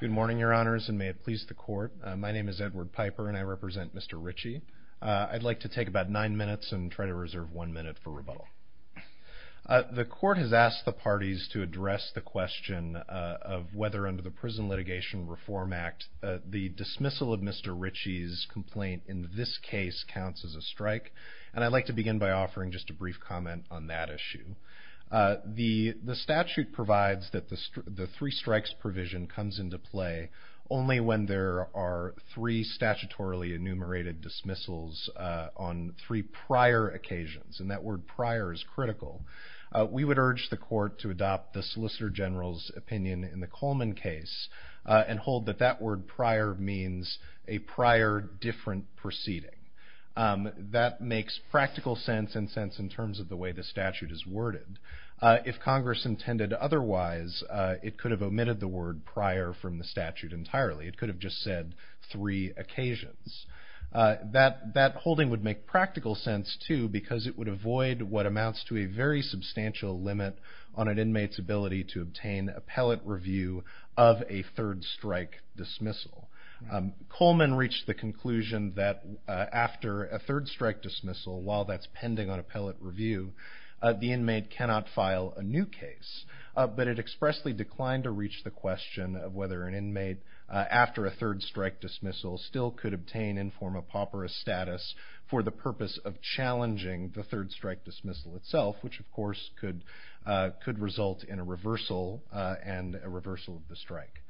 Good morning, your honors, and may it please the court. My name is Edward Piper, and I represent Mr. Richey. I'd like to take about nine minutes and try to reserve one minute for rebuttal. The court has asked the parties to address the question of whether, under the Prison Litigation Reform Act, the dismissal of Mr. Richey's complaint in this case counts as a strike, and I'd like to begin by offering just a brief comment on that issue. The statute provides that the three strikes provision comes into play only when there are three statutorily enumerated dismissals on three prior occasions, and that word prior is critical. We would urge the court to adopt the Solicitor General's opinion in the Coleman case, and hold that that word prior means a prior different proceeding. That makes practical sense and sense in terms of the way the statute is worded. If Congress intended otherwise, it would could have omitted the word prior from the statute entirely. It could have just said three occasions. That holding would make practical sense, too, because it would avoid what amounts to a very substantial limit on an inmate's ability to obtain appellate review of a third strike dismissal. Coleman reached the conclusion that after a third strike dismissal, while that's pending on appellate review, the inmate cannot file a new case, but it expressly declines to reach the question of whether an inmate, after a third strike dismissal, still could obtain inform-a-pauperous status for the purpose of challenging the third strike dismissal itself, which, of course, could result in a reversal and a reversal of the strike.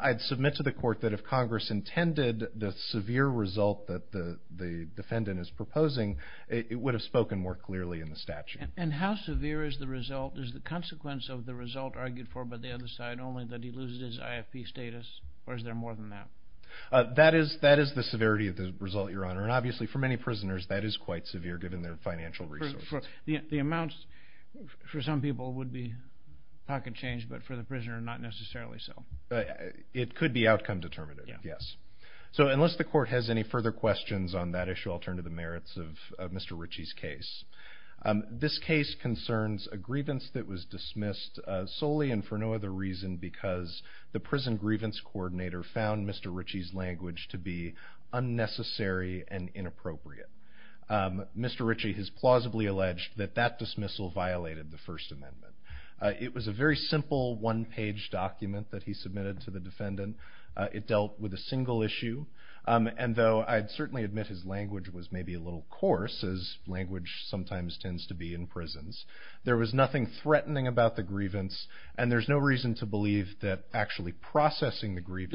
I'd submit to the court that if Congress intended the severe result that the defendant is proposing, it would have spoken more clearly in the statute. And how severe is the result? Is the consequence of the result argued for by the other side only that he loses his IFP status, or is there more than that? That is the severity of the result, Your Honor. And obviously, for many prisoners, that is quite severe, given their financial resources. The amounts, for some people, would be pocket change, but for the prisoner, not necessarily so. It could be outcome determinative, yes. So unless the court has any further questions on that issue, I'll turn to the merits of Mr. Ritchie's case. This case concerns a grievance that was dismissed solely and for no other reason because the prison grievance coordinator found Mr. Ritchie's language to be unnecessary and inappropriate. Mr. Ritchie has plausibly alleged that that dismissal violated the First Amendment. It was a very simple, one-page document that he submitted to the defendant. It dealt with a single issue, and though I'd certainly admit his language was maybe a little coarse, as language sometimes tends to be in prisons, there was nothing threatening about the grievance, and there's no reason to believe that actually processing the grievance...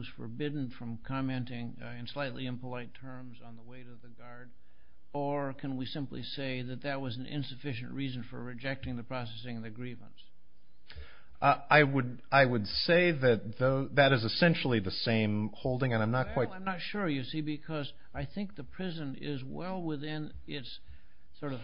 was forbidden from commenting in slightly impolite terms on the weight of the guard, or can we simply say that that was an insufficient reason for rejecting the processing of the grievance? I would say that that is essentially the same holding, and I'm not quite... Well, I'm not sure, you see, because I think the prison is well within its sort of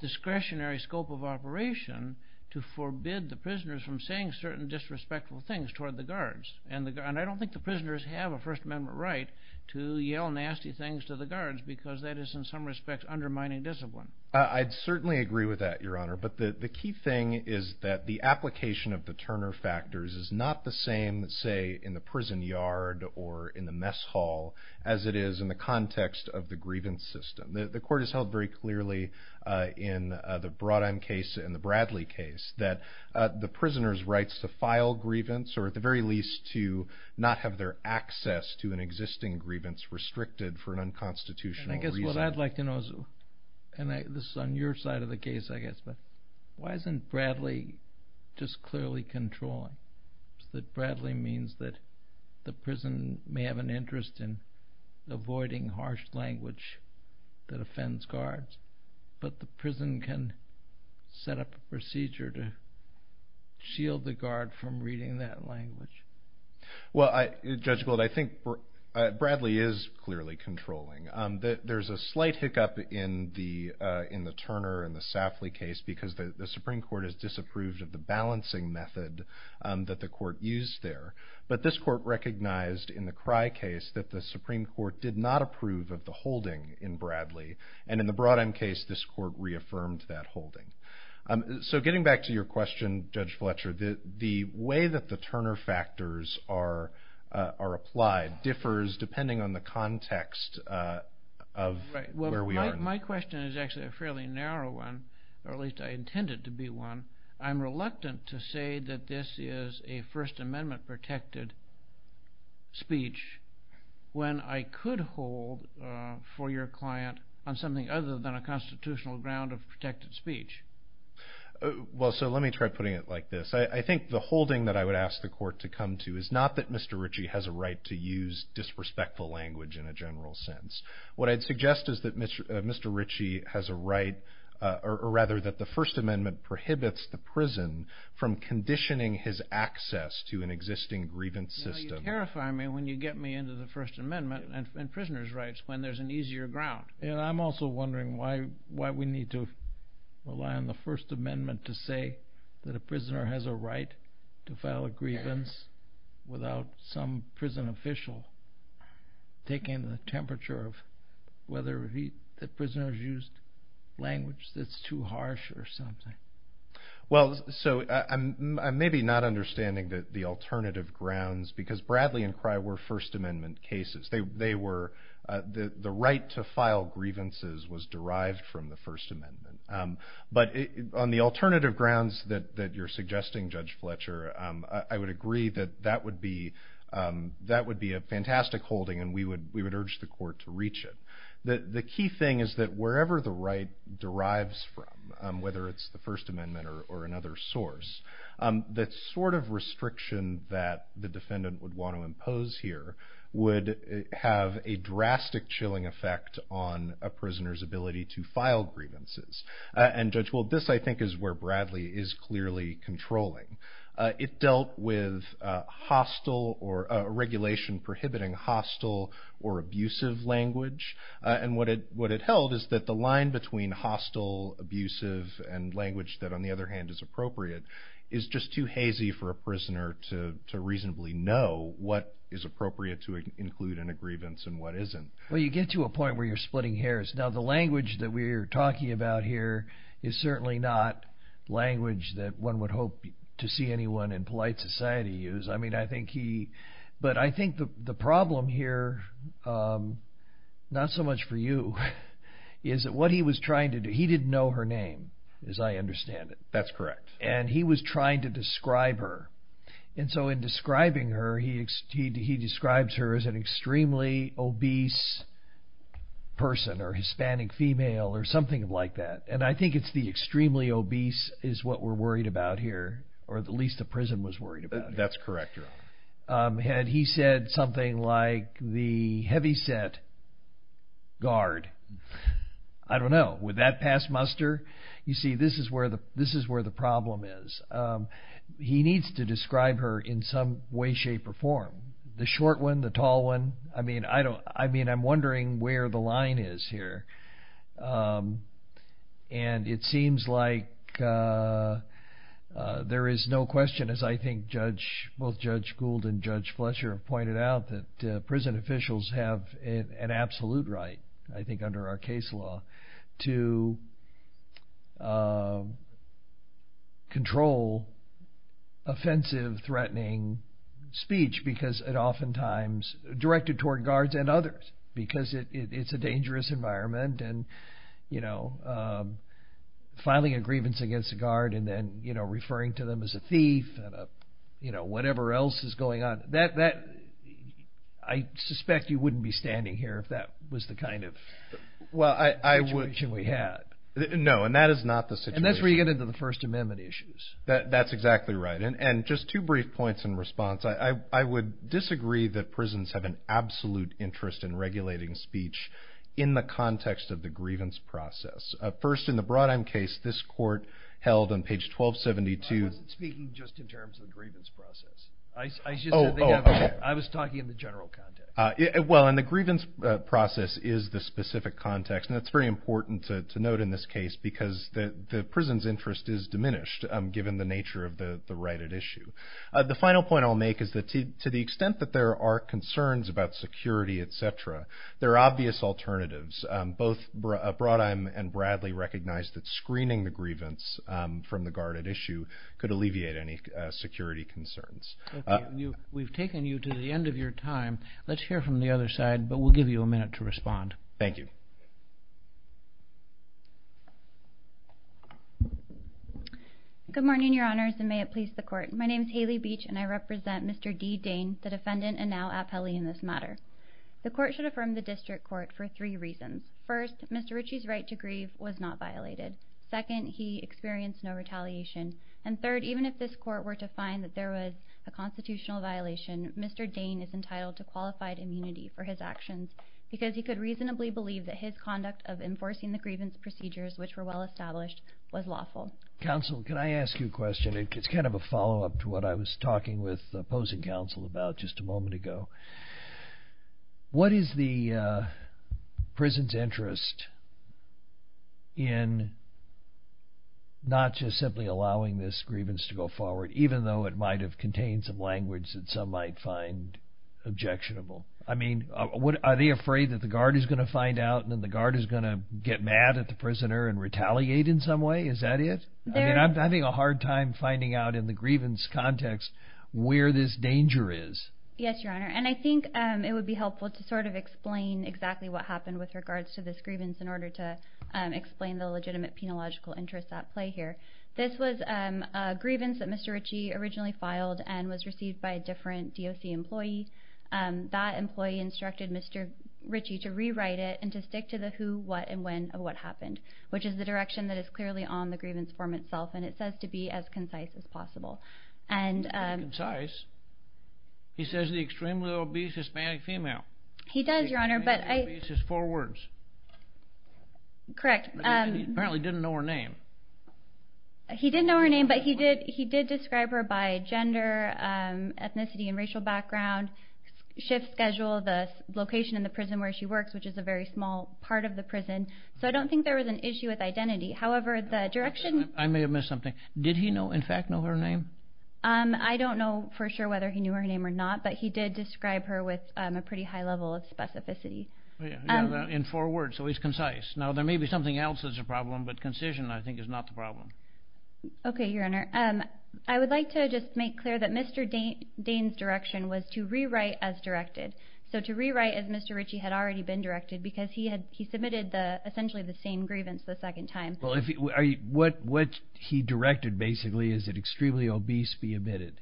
discretionary scope of operation to forbid the prisoners from saying certain disrespectful things toward the guards. And I don't think the prisoners have a First Amendment right to yell nasty things to the guards because that is in some respects undermining discipline. I'd certainly agree with that, Your Honor, but the key thing is that the application of the Turner factors is not the same, say, in the prison yard or in the mess hall as it is in the context of the grievance system. The court has held very clearly in the Brodheim case and the Bradley case that the prisoners' rights to file grievance, or at the very least to not have their access to an existing grievance, restricted for an unconstitutional reason. What I'd like to know is, and this is on your side of the case, I guess, but why isn't Bradley just clearly controlling? That Bradley means that the prison may have an interest in avoiding harsh language that offends guards, but the prison can set up a procedure to shield the guard from reading that language. Well, Judge Gould, I think Bradley is clearly controlling. There's a slight hiccup in the Turner and the Safley case because the Supreme Court has disapproved of the balancing method that the court used there. But this court recognized in the Cry case that the Supreme Court did not approve of the holding in Bradley, and in the Brodheim case, this court reaffirmed that holding. So getting back to your question, Judge Fletcher, the way that the Turner factors are applied differs depending on the context of where we are. My question is actually a fairly narrow one, or at least I intend it to be one. I'm reluctant to say that this is a First Amendment-protected speech when I could hold for your client on something other than a constitutional ground of protected speech. Well, so let me try putting it like this. I think the holding that I would ask the court to come to is not that Mr. Ritchie has a right to use disrespectful language in a general sense. What I'd suggest is that Mr. Ritchie has a right, or rather that the First Amendment prohibits the prison from conditioning his access to an existing grievance system. You know, you terrify me when you get me into the First Amendment and prisoners' rights when there's an easier ground. And I'm also wondering why we need to rely on the First Amendment to say that a prisoner has a right to file a grievance without some prison official taking the temperature of whether the prisoner has used language that's too harsh or something. Well, so I'm maybe not understanding the alternative grounds because Bradley and Cry were First Amendment cases. The right to file grievances was derived from the First Amendment. But on the alternative grounds that you're suggesting, Judge Fletcher, I would agree that that would be a fantastic holding and we would urge the court to reach it. The key thing is that wherever the right derives from, whether it's the First Amendment or another source, the sort of restriction that the defendant would want to impose here would have a drastic chilling effect on a prisoner's ability to file grievances. And Judge, well, this I think is where Bradley is clearly controlling. It dealt with hostile or regulation prohibiting hostile or abusive language. And what it held is that the line between hostile, abusive, and language that on the other hand is appropriate is just too hazy for a prisoner to reasonably know what is appropriate to include in a grievance and what isn't. Well, you get to a point where you're splitting hairs. Now, the language that we're talking about here is certainly not language that one would hope to see anyone in polite society use. I mean, I think he, but I think the problem here, not so much for you, is that what he was trying to do, he didn't know her name as I understand it. That's correct. And he was trying to describe her. And so in describing her, he describes her as an extremely obese person or Hispanic female or something like that. And I think it's the extremely obese is what we're worried about here, or at least the prison was worried about. That's correct. Had he said something like the heavyset guard, I don't know, would that pass muster? You see, this is where the problem is. He needs to describe her in some way, shape, or form. The short one, the tall one. I mean, I'm wondering where the line is here. And it seems like there is no question, as I think both Judge Gould and Judge Fletcher have pointed out, that prison officials have an absolute right, I think under our case law, to control offensive, threatening speech. Because it oftentimes directed toward guards and others, because it's a dangerous environment. And filing a grievance against a guard and then referring to them as a thief, whatever else is going on. I suspect you wouldn't be standing here if that was the kind of situation we had. No, and that is not the situation. And that's where you get into the First Amendment issues. That's exactly right. And just two brief points in response. I would disagree that prisons have an absolute interest in regulating speech in the context of the grievance process. First, in the Brodheim case, this court held on page 1272. I wasn't speaking just in terms of the grievance process. I was talking in the general context. Well, and the grievance process is the specific context. And that's very important to note in this case, because the prison's interest is diminished, given the nature of the right at issue. The final point I'll make is that to the extent that there are concerns about security, etc., there are obvious alternatives. Both Brodheim and Bradley recognized that screening the grievance from the guard at issue could alleviate any security concerns. We've taken you to the end of your time. Let's hear from the other side, but we'll give you a minute to respond. Thank you. Good morning, Your Honors, and may it please the Court. My name is Haley Beach, and I represent Mr. D. Dane, the defendant, and now appellee in this matter. The Court should affirm the district court for three reasons. First, Mr. Ritchie's right to grieve was not violated. Second, he experienced no retaliation. And third, even if this Court were to find that there was a constitutional violation, Mr. Dane is entitled to qualified immunity for his actions, because he could reasonably believe that his conduct of enforcing the grievance procedures, which were well established, was lawful. Counsel, can I ask you a question? It's kind of a follow-up to what I was talking with the opposing counsel about just a moment ago. What is the prison's interest in not just simply allowing this grievance to go forward, even though it might have contained some language that some might find objectionable? I mean, are they afraid that the guard is going to find out, and then the guard is going to get mad at the prisoner and retaliate in some way? Is that it? I mean, I'm having a hard time finding out in the grievance context where this danger is. Yes, Your Honor, and I think it would be helpful to sort of explain exactly what happened with regards to this grievance in order to explain the legitimate penological interests at play here. This was a grievance that Mr. Ritchie originally filed and was received by a different DOC employee. That employee instructed Mr. Ritchie to rewrite it and to stick to the who, what, and when of what happened, which is the direction that is clearly on the grievance form itself, and it says to be as concise as possible. It's concise. He says the extremely obese Hispanic female. He does, Your Honor, but I... He says four words. Correct. He apparently didn't know her name. He didn't know her name, but he did describe her by gender, ethnicity, and racial background, shift schedule, the location in the prison where she works, which is a very small part of the prison. So I don't think there was an issue with identity. However, the direction... I may have missed something. Did he know, in fact, know her name? I don't know for sure whether he knew her name or not, but he did describe her with a pretty high level of specificity. In four words, so he's concise. Now, there may be something else that's a problem, but concision, I think, is not the problem. Okay, Your Honor. I would like to just make clear that Mr. Dane's direction was to rewrite as directed, so to rewrite as Mr. Ritchie had already been directed because he submitted essentially the same grievance the second time. Well, what he directed basically is that extremely obese be admitted.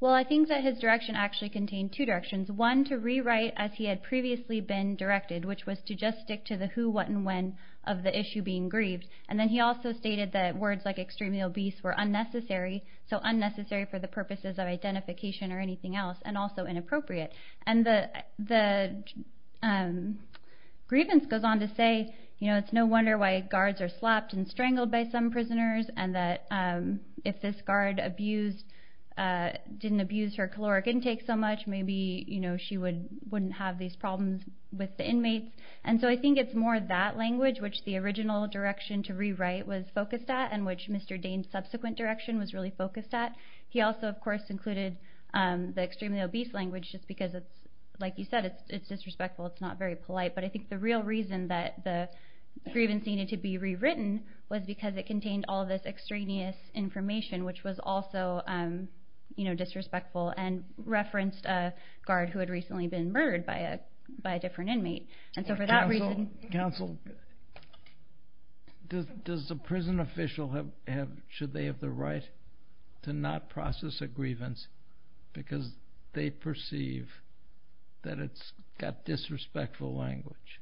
Well, I think that his direction actually contained two directions. One, to rewrite as he had previously been directed, which was to just stick to the who, what, and when of the issue being grieved. And then he also stated that words like extremely obese were unnecessary, so unnecessary for the purposes of identification or anything else, and also inappropriate. And the grievance goes on to say, you know, it's no wonder why guards are slapped and strangled by some prisoners and that if this guard abused, didn't abuse her caloric intake so much, maybe, you know, she wouldn't have these problems with the inmates. And so I think it's more that language, which the original direction to rewrite was focused at and which Mr. Dane's subsequent direction was really focused at. He also, of course, included the extremely obese language just because it's, like you said, it's disrespectful, it's not very polite. But I think the real reason that the grievance needed to be rewritten was because it contained all this extraneous information, which was also, you know, disrespectful, and referenced a guard who had recently been murdered by a different inmate. Counsel, does the prison official, should they have the right to not process a grievance because they perceive that it's got disrespectful language?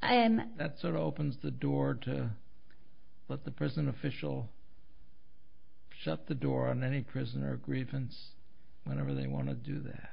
That sort of opens the door to let the prison official shut the door on any prisoner of grievance whenever they want to do that.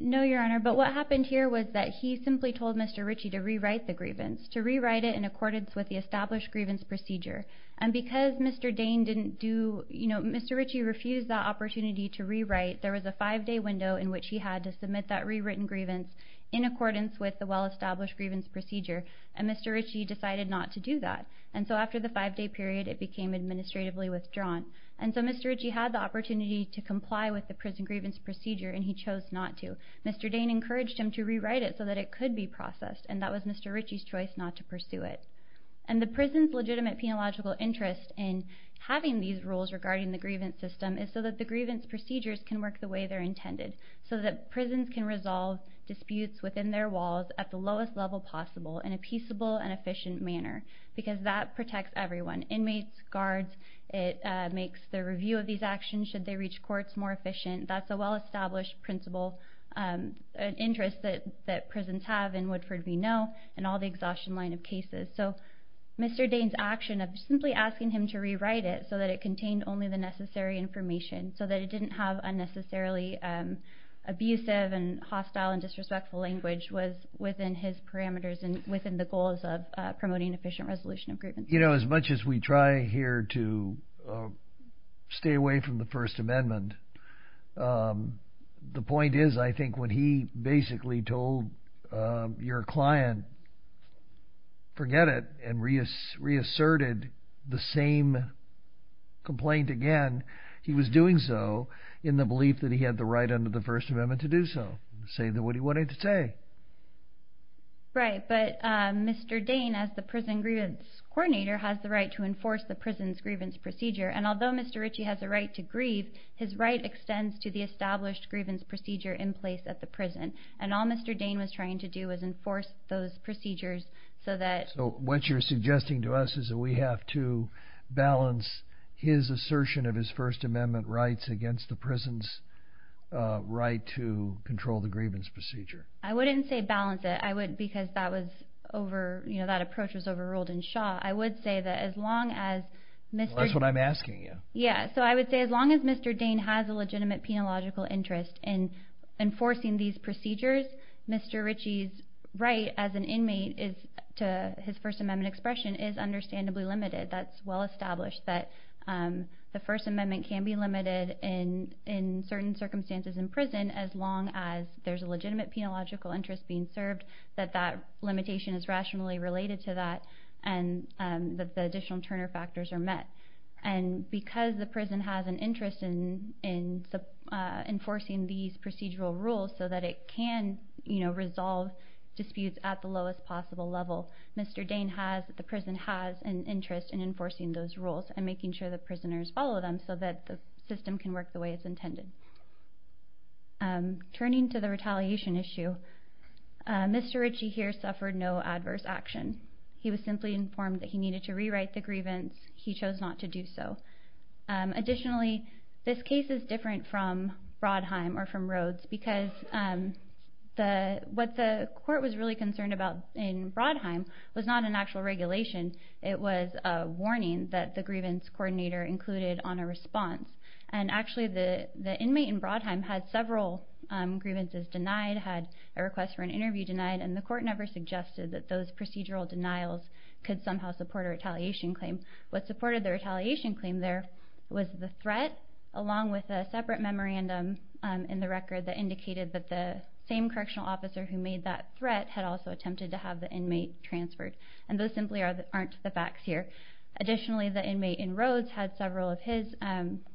No, Your Honor, but what happened here was that he simply told Mr. Ritchie to rewrite the grievance, to rewrite it in accordance with the established grievance procedure. And because Mr. Dane didn't do, you know, Mr. Ritchie refused that opportunity to rewrite, there was a five-day window in which he had to submit that rewritten grievance in accordance with the well-established grievance procedure, and Mr. Ritchie decided not to do that. And so after the five-day period, it became administratively withdrawn. And so Mr. Ritchie had the opportunity to comply with the prison grievance procedure, and he chose not to. Mr. Dane encouraged him to rewrite it so that it could be processed, and that was Mr. Ritchie's choice not to pursue it. And the prison's legitimate penological interest in having these rules regarding the grievance system is so that the grievance procedures can work the way they're intended, so that prisons can resolve disputes within their walls at the lowest level possible in a peaceable and efficient manner because that protects everyone, inmates, guards. It makes the review of these actions, should they reach courts, more efficient. That's a well-established interest that prisons have in Woodford v. Noe and all the exhaustion line of cases. So Mr. Dane's action of simply asking him to rewrite it so that it contained only the necessary information, so that it didn't have unnecessarily abusive and hostile and disrespectful language was within his parameters and within the goals of promoting efficient resolution of grievance. You know, as much as we try here to stay away from the First Amendment, the point is I think when he basically told your client, forget it, and reasserted the same complaint again, he was doing so in the belief that he had the right under the First Amendment to do so, saying what he wanted to say. Right, but Mr. Dane, as the prison grievance coordinator, has the right to enforce the prison's grievance procedure, and although Mr. Ritchie has the right to grieve, his right extends to the established grievance procedure in place at the prison, and all Mr. Dane was trying to do was enforce those procedures so that... So what you're suggesting to us is that we have to balance his assertion of his First Amendment rights against the prison's right to control the grievance procedure. I wouldn't say balance it because that approach was overruled in Shaw. I would say that as long as... That's what I'm asking you. Yeah, so I would say as long as Mr. Dane has a legitimate penological interest in enforcing these procedures, Mr. Ritchie's right as an inmate to his First Amendment expression is understandably limited. That's well established that the First Amendment can be limited in certain circumstances in prison as long as there's a legitimate penological interest being served, that that limitation is rationally related to that, and that the additional Turner factors are met. And because the prison has an interest in enforcing these procedural rules so that it can resolve disputes at the lowest possible level, Mr. Dane has, the prison has, an interest in enforcing those rules and making sure the prisoners follow them so that the system can work the way it's intended. Turning to the retaliation issue, Mr. Ritchie here suffered no adverse action. He was simply informed that he needed to rewrite the grievance. He chose not to do so. Additionally, this case is different from Brodheim or from Rhodes because what the court was really concerned about in Brodheim was not an actual regulation. It was a warning that the grievance coordinator included on a response. And actually, the inmate in Brodheim had several grievances denied, had a request for an interview denied, and the court never suggested that those procedural denials could somehow support a retaliation claim. What supported the retaliation claim there was the threat along with a separate memorandum in the record that indicated that the same correctional officer who made that threat had also attempted to have the inmate transferred. And those simply aren't the facts here. Additionally, the inmate in Rhodes had several of his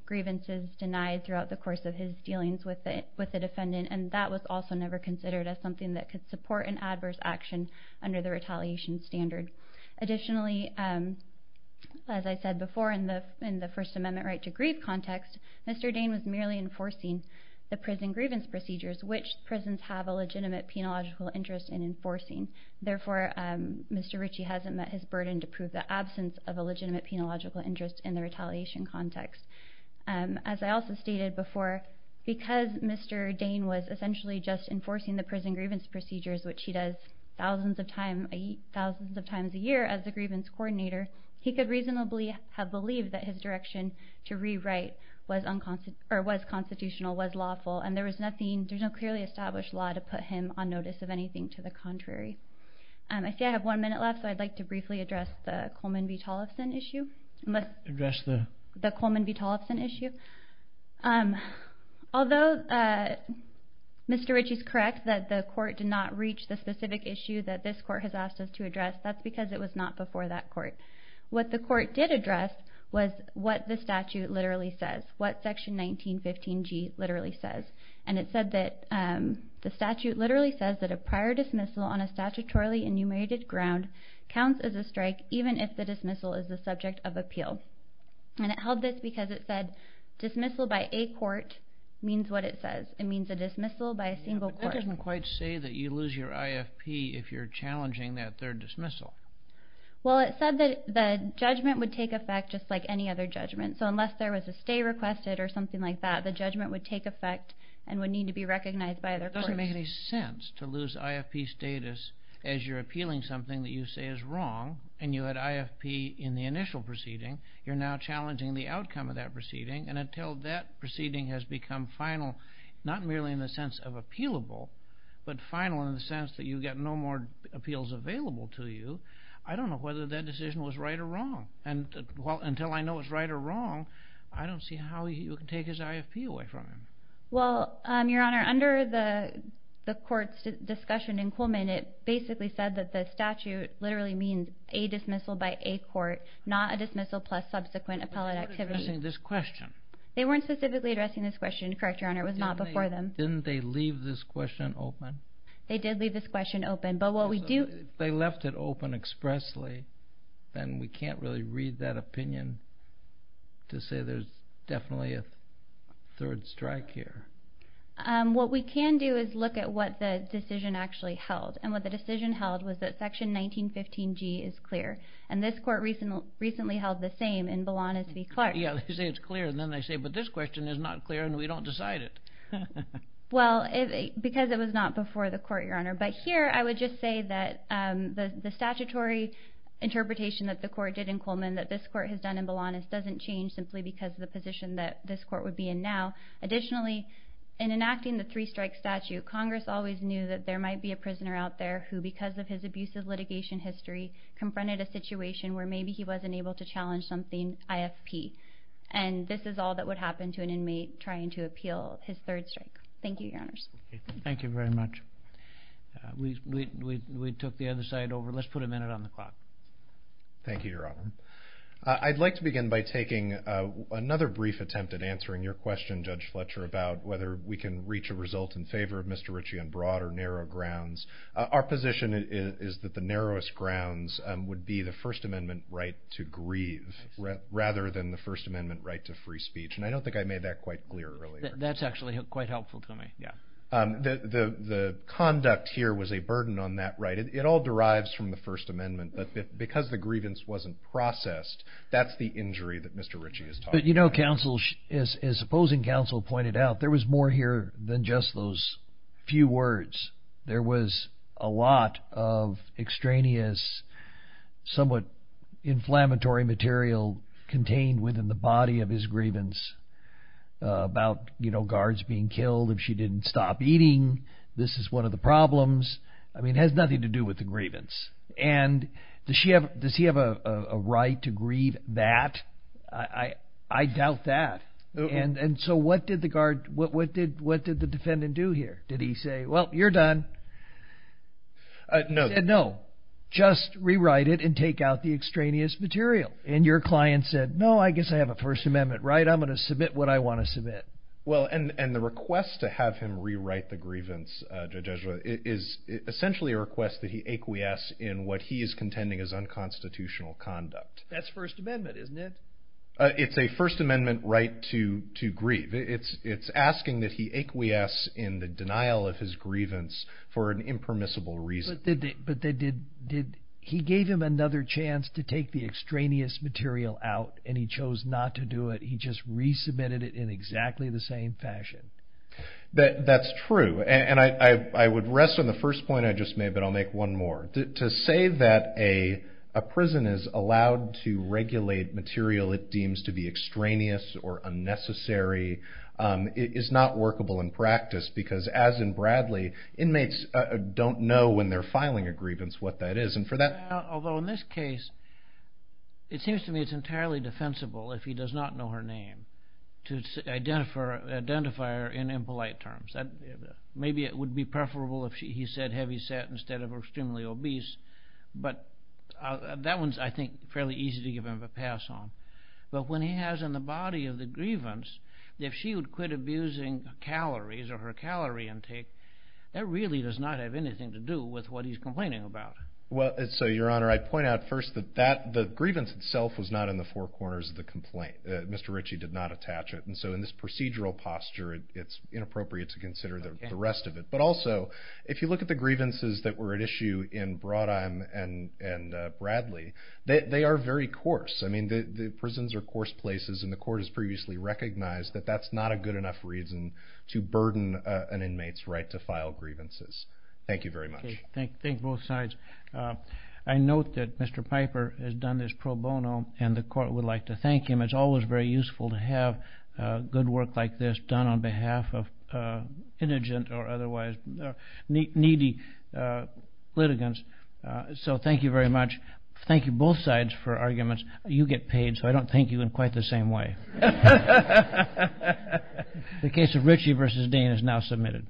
grievances denied throughout the course of his dealings with the defendant, and that was also never considered as something that could support an adverse action under the retaliation standard. Additionally, as I said before, in the First Amendment right to grieve context, Mr. Dane was merely enforcing the prison grievance procedures, which prisons have a legitimate penological interest in enforcing. Therefore, Mr. Ritchie hasn't met his burden to prove the absence of a legitimate penological interest in the retaliation context. As I also stated before, because Mr. Dane was essentially just enforcing the prison grievance procedures, which he does thousands of times a year as the grievance coordinator, he could reasonably have believed that his direction to rewrite was constitutional, was lawful, and there was no clearly established law to put him on notice of anything to the contrary. I see I have one minute left, so I'd like to briefly address the Coleman v. Tollefson issue. Although Mr. Ritchie is correct that the court did not reach the specific issue that this court has asked us to address, that's because it was not before that court. What the court did address was what the statute literally says, what Section 1915G literally says. And it said that the statute literally says that a prior dismissal on a statutorily enumerated ground counts as a strike even if the dismissal is the subject of appeal. And it held this because it said dismissal by a court means what it says. It means a dismissal by a single court. But that doesn't quite say that you lose your IFP if you're challenging that third dismissal. Well, it said that the judgment would take effect just like any other judgment. So unless there was a stay requested or something like that, the judgment would take effect and would need to be recognized by other courts. It doesn't make any sense to lose IFP status as you're appealing something that you say is wrong and you had IFP in the initial proceeding. You're now challenging the outcome of that proceeding. And until that proceeding has become final, not merely in the sense of appealable, but final in the sense that you get no more appeals available to you, I don't know whether that decision was right or wrong. And until I know it's right or wrong, I don't see how you can take his IFP away from him. Well, Your Honor, under the court's discussion in Coleman, it basically said that the statute literally means a dismissal by a court, not a dismissal plus subsequent appellate activity. They weren't addressing this question. They weren't specifically addressing this question, correct, Your Honor. It was not before them. Didn't they leave this question open? They did leave this question open. They left it open expressly, and we can't really read that opinion to say there's definitely a third strike here. What we can do is look at what the decision actually held, and what the decision held was that Section 1915G is clear, and this court recently held the same in Belonis v. Clark. Yeah, they say it's clear, and then they say, but this question is not clear and we don't decide it. Well, because it was not before the court, Your Honor. But here I would just say that the statutory interpretation that the court did in Coleman that this court has done in Belonis doesn't change simply because of the position that this court would be in now. Additionally, in enacting the three-strike statute, Congress always knew that there might be a prisoner out there who, because of his abusive litigation history, confronted a situation where maybe he wasn't able to challenge something IFP, and this is all that would happen to an inmate trying to appeal his third strike. Thank you, Your Honors. Thank you very much. We took the other side over. Let's put a minute on the clock. Thank you, Your Honor. I'd like to begin by taking another brief attempt at answering your question, Judge Fletcher, about whether we can reach a result in favor of Mr. Ritchie on broad or narrow grounds. Our position is that the narrowest grounds would be the First Amendment right to grieve rather than the First Amendment right to free speech, and I don't think I made that quite clear earlier. That's actually quite helpful to me. The conduct here was a burden on that right. It all derives from the First Amendment, but because the grievance wasn't processed, that's the injury that Mr. Ritchie is talking about. But you know, counsel, as opposing counsel pointed out, there was more here than just those few words. There was a lot of extraneous, somewhat inflammatory material contained within the body of his grievance about guards being killed if she didn't stop eating. This is one of the problems. I mean, it has nothing to do with the grievance. And does he have a right to grieve that? I doubt that. And so what did the defendant do here? Did he say, well, you're done? No. He said, no, just rewrite it and take out the extraneous material. And your client said, no, I guess I have a First Amendment right. I'm going to submit what I want to submit. Well, and the request to have him rewrite the grievance, Judge Ezra, is essentially a request that he acquiesce in what he is contending is unconstitutional conduct. That's First Amendment, isn't it? It's a First Amendment right to grieve. It's asking that he acquiesce in the denial of his grievance for an impermissible reason. But he gave him another chance to take the extraneous material out, and he chose not to do it. He just resubmitted it in exactly the same fashion. That's true. And I would rest on the first point I just made, but I'll make one more. To say that a prison is allowed to regulate material it deems to be extraneous or unnecessary is not workable in practice, because as in Bradley, inmates don't know when they're filing a grievance what that is. Although in this case, it seems to me it's entirely defensible if he does not know her name to identify her in impolite terms. Maybe it would be preferable if he said heavy set instead of extremely obese. But that one's, I think, fairly easy to give him a pass on. But when he has in the body of the grievance, if she would quit abusing calories or her calorie intake, that really does not have anything to do with what he's complaining about. Well, so, Your Honor, I'd point out first that the grievance itself was not in the four corners of the complaint. Mr. Ritchie did not attach it. And so in this procedural posture, it's inappropriate to consider the rest of it. But also, if you look at the grievances that were at issue in Brodheim and Bradley, they are very coarse. I mean, the prisons are coarse places. And the court has previously recognized that that's not a good enough reason to burden an inmate's right to file grievances. Thank you very much. Thank both sides. I note that Mr. Piper has done this pro bono, and the court would like to thank him. It's always very useful to have good work like this done on behalf of indigent or otherwise needy litigants. So thank you very much. Thank you both sides for arguments. You get paid, so I don't thank you in quite the same way. The case of Ritchie v. Dean is now submitted.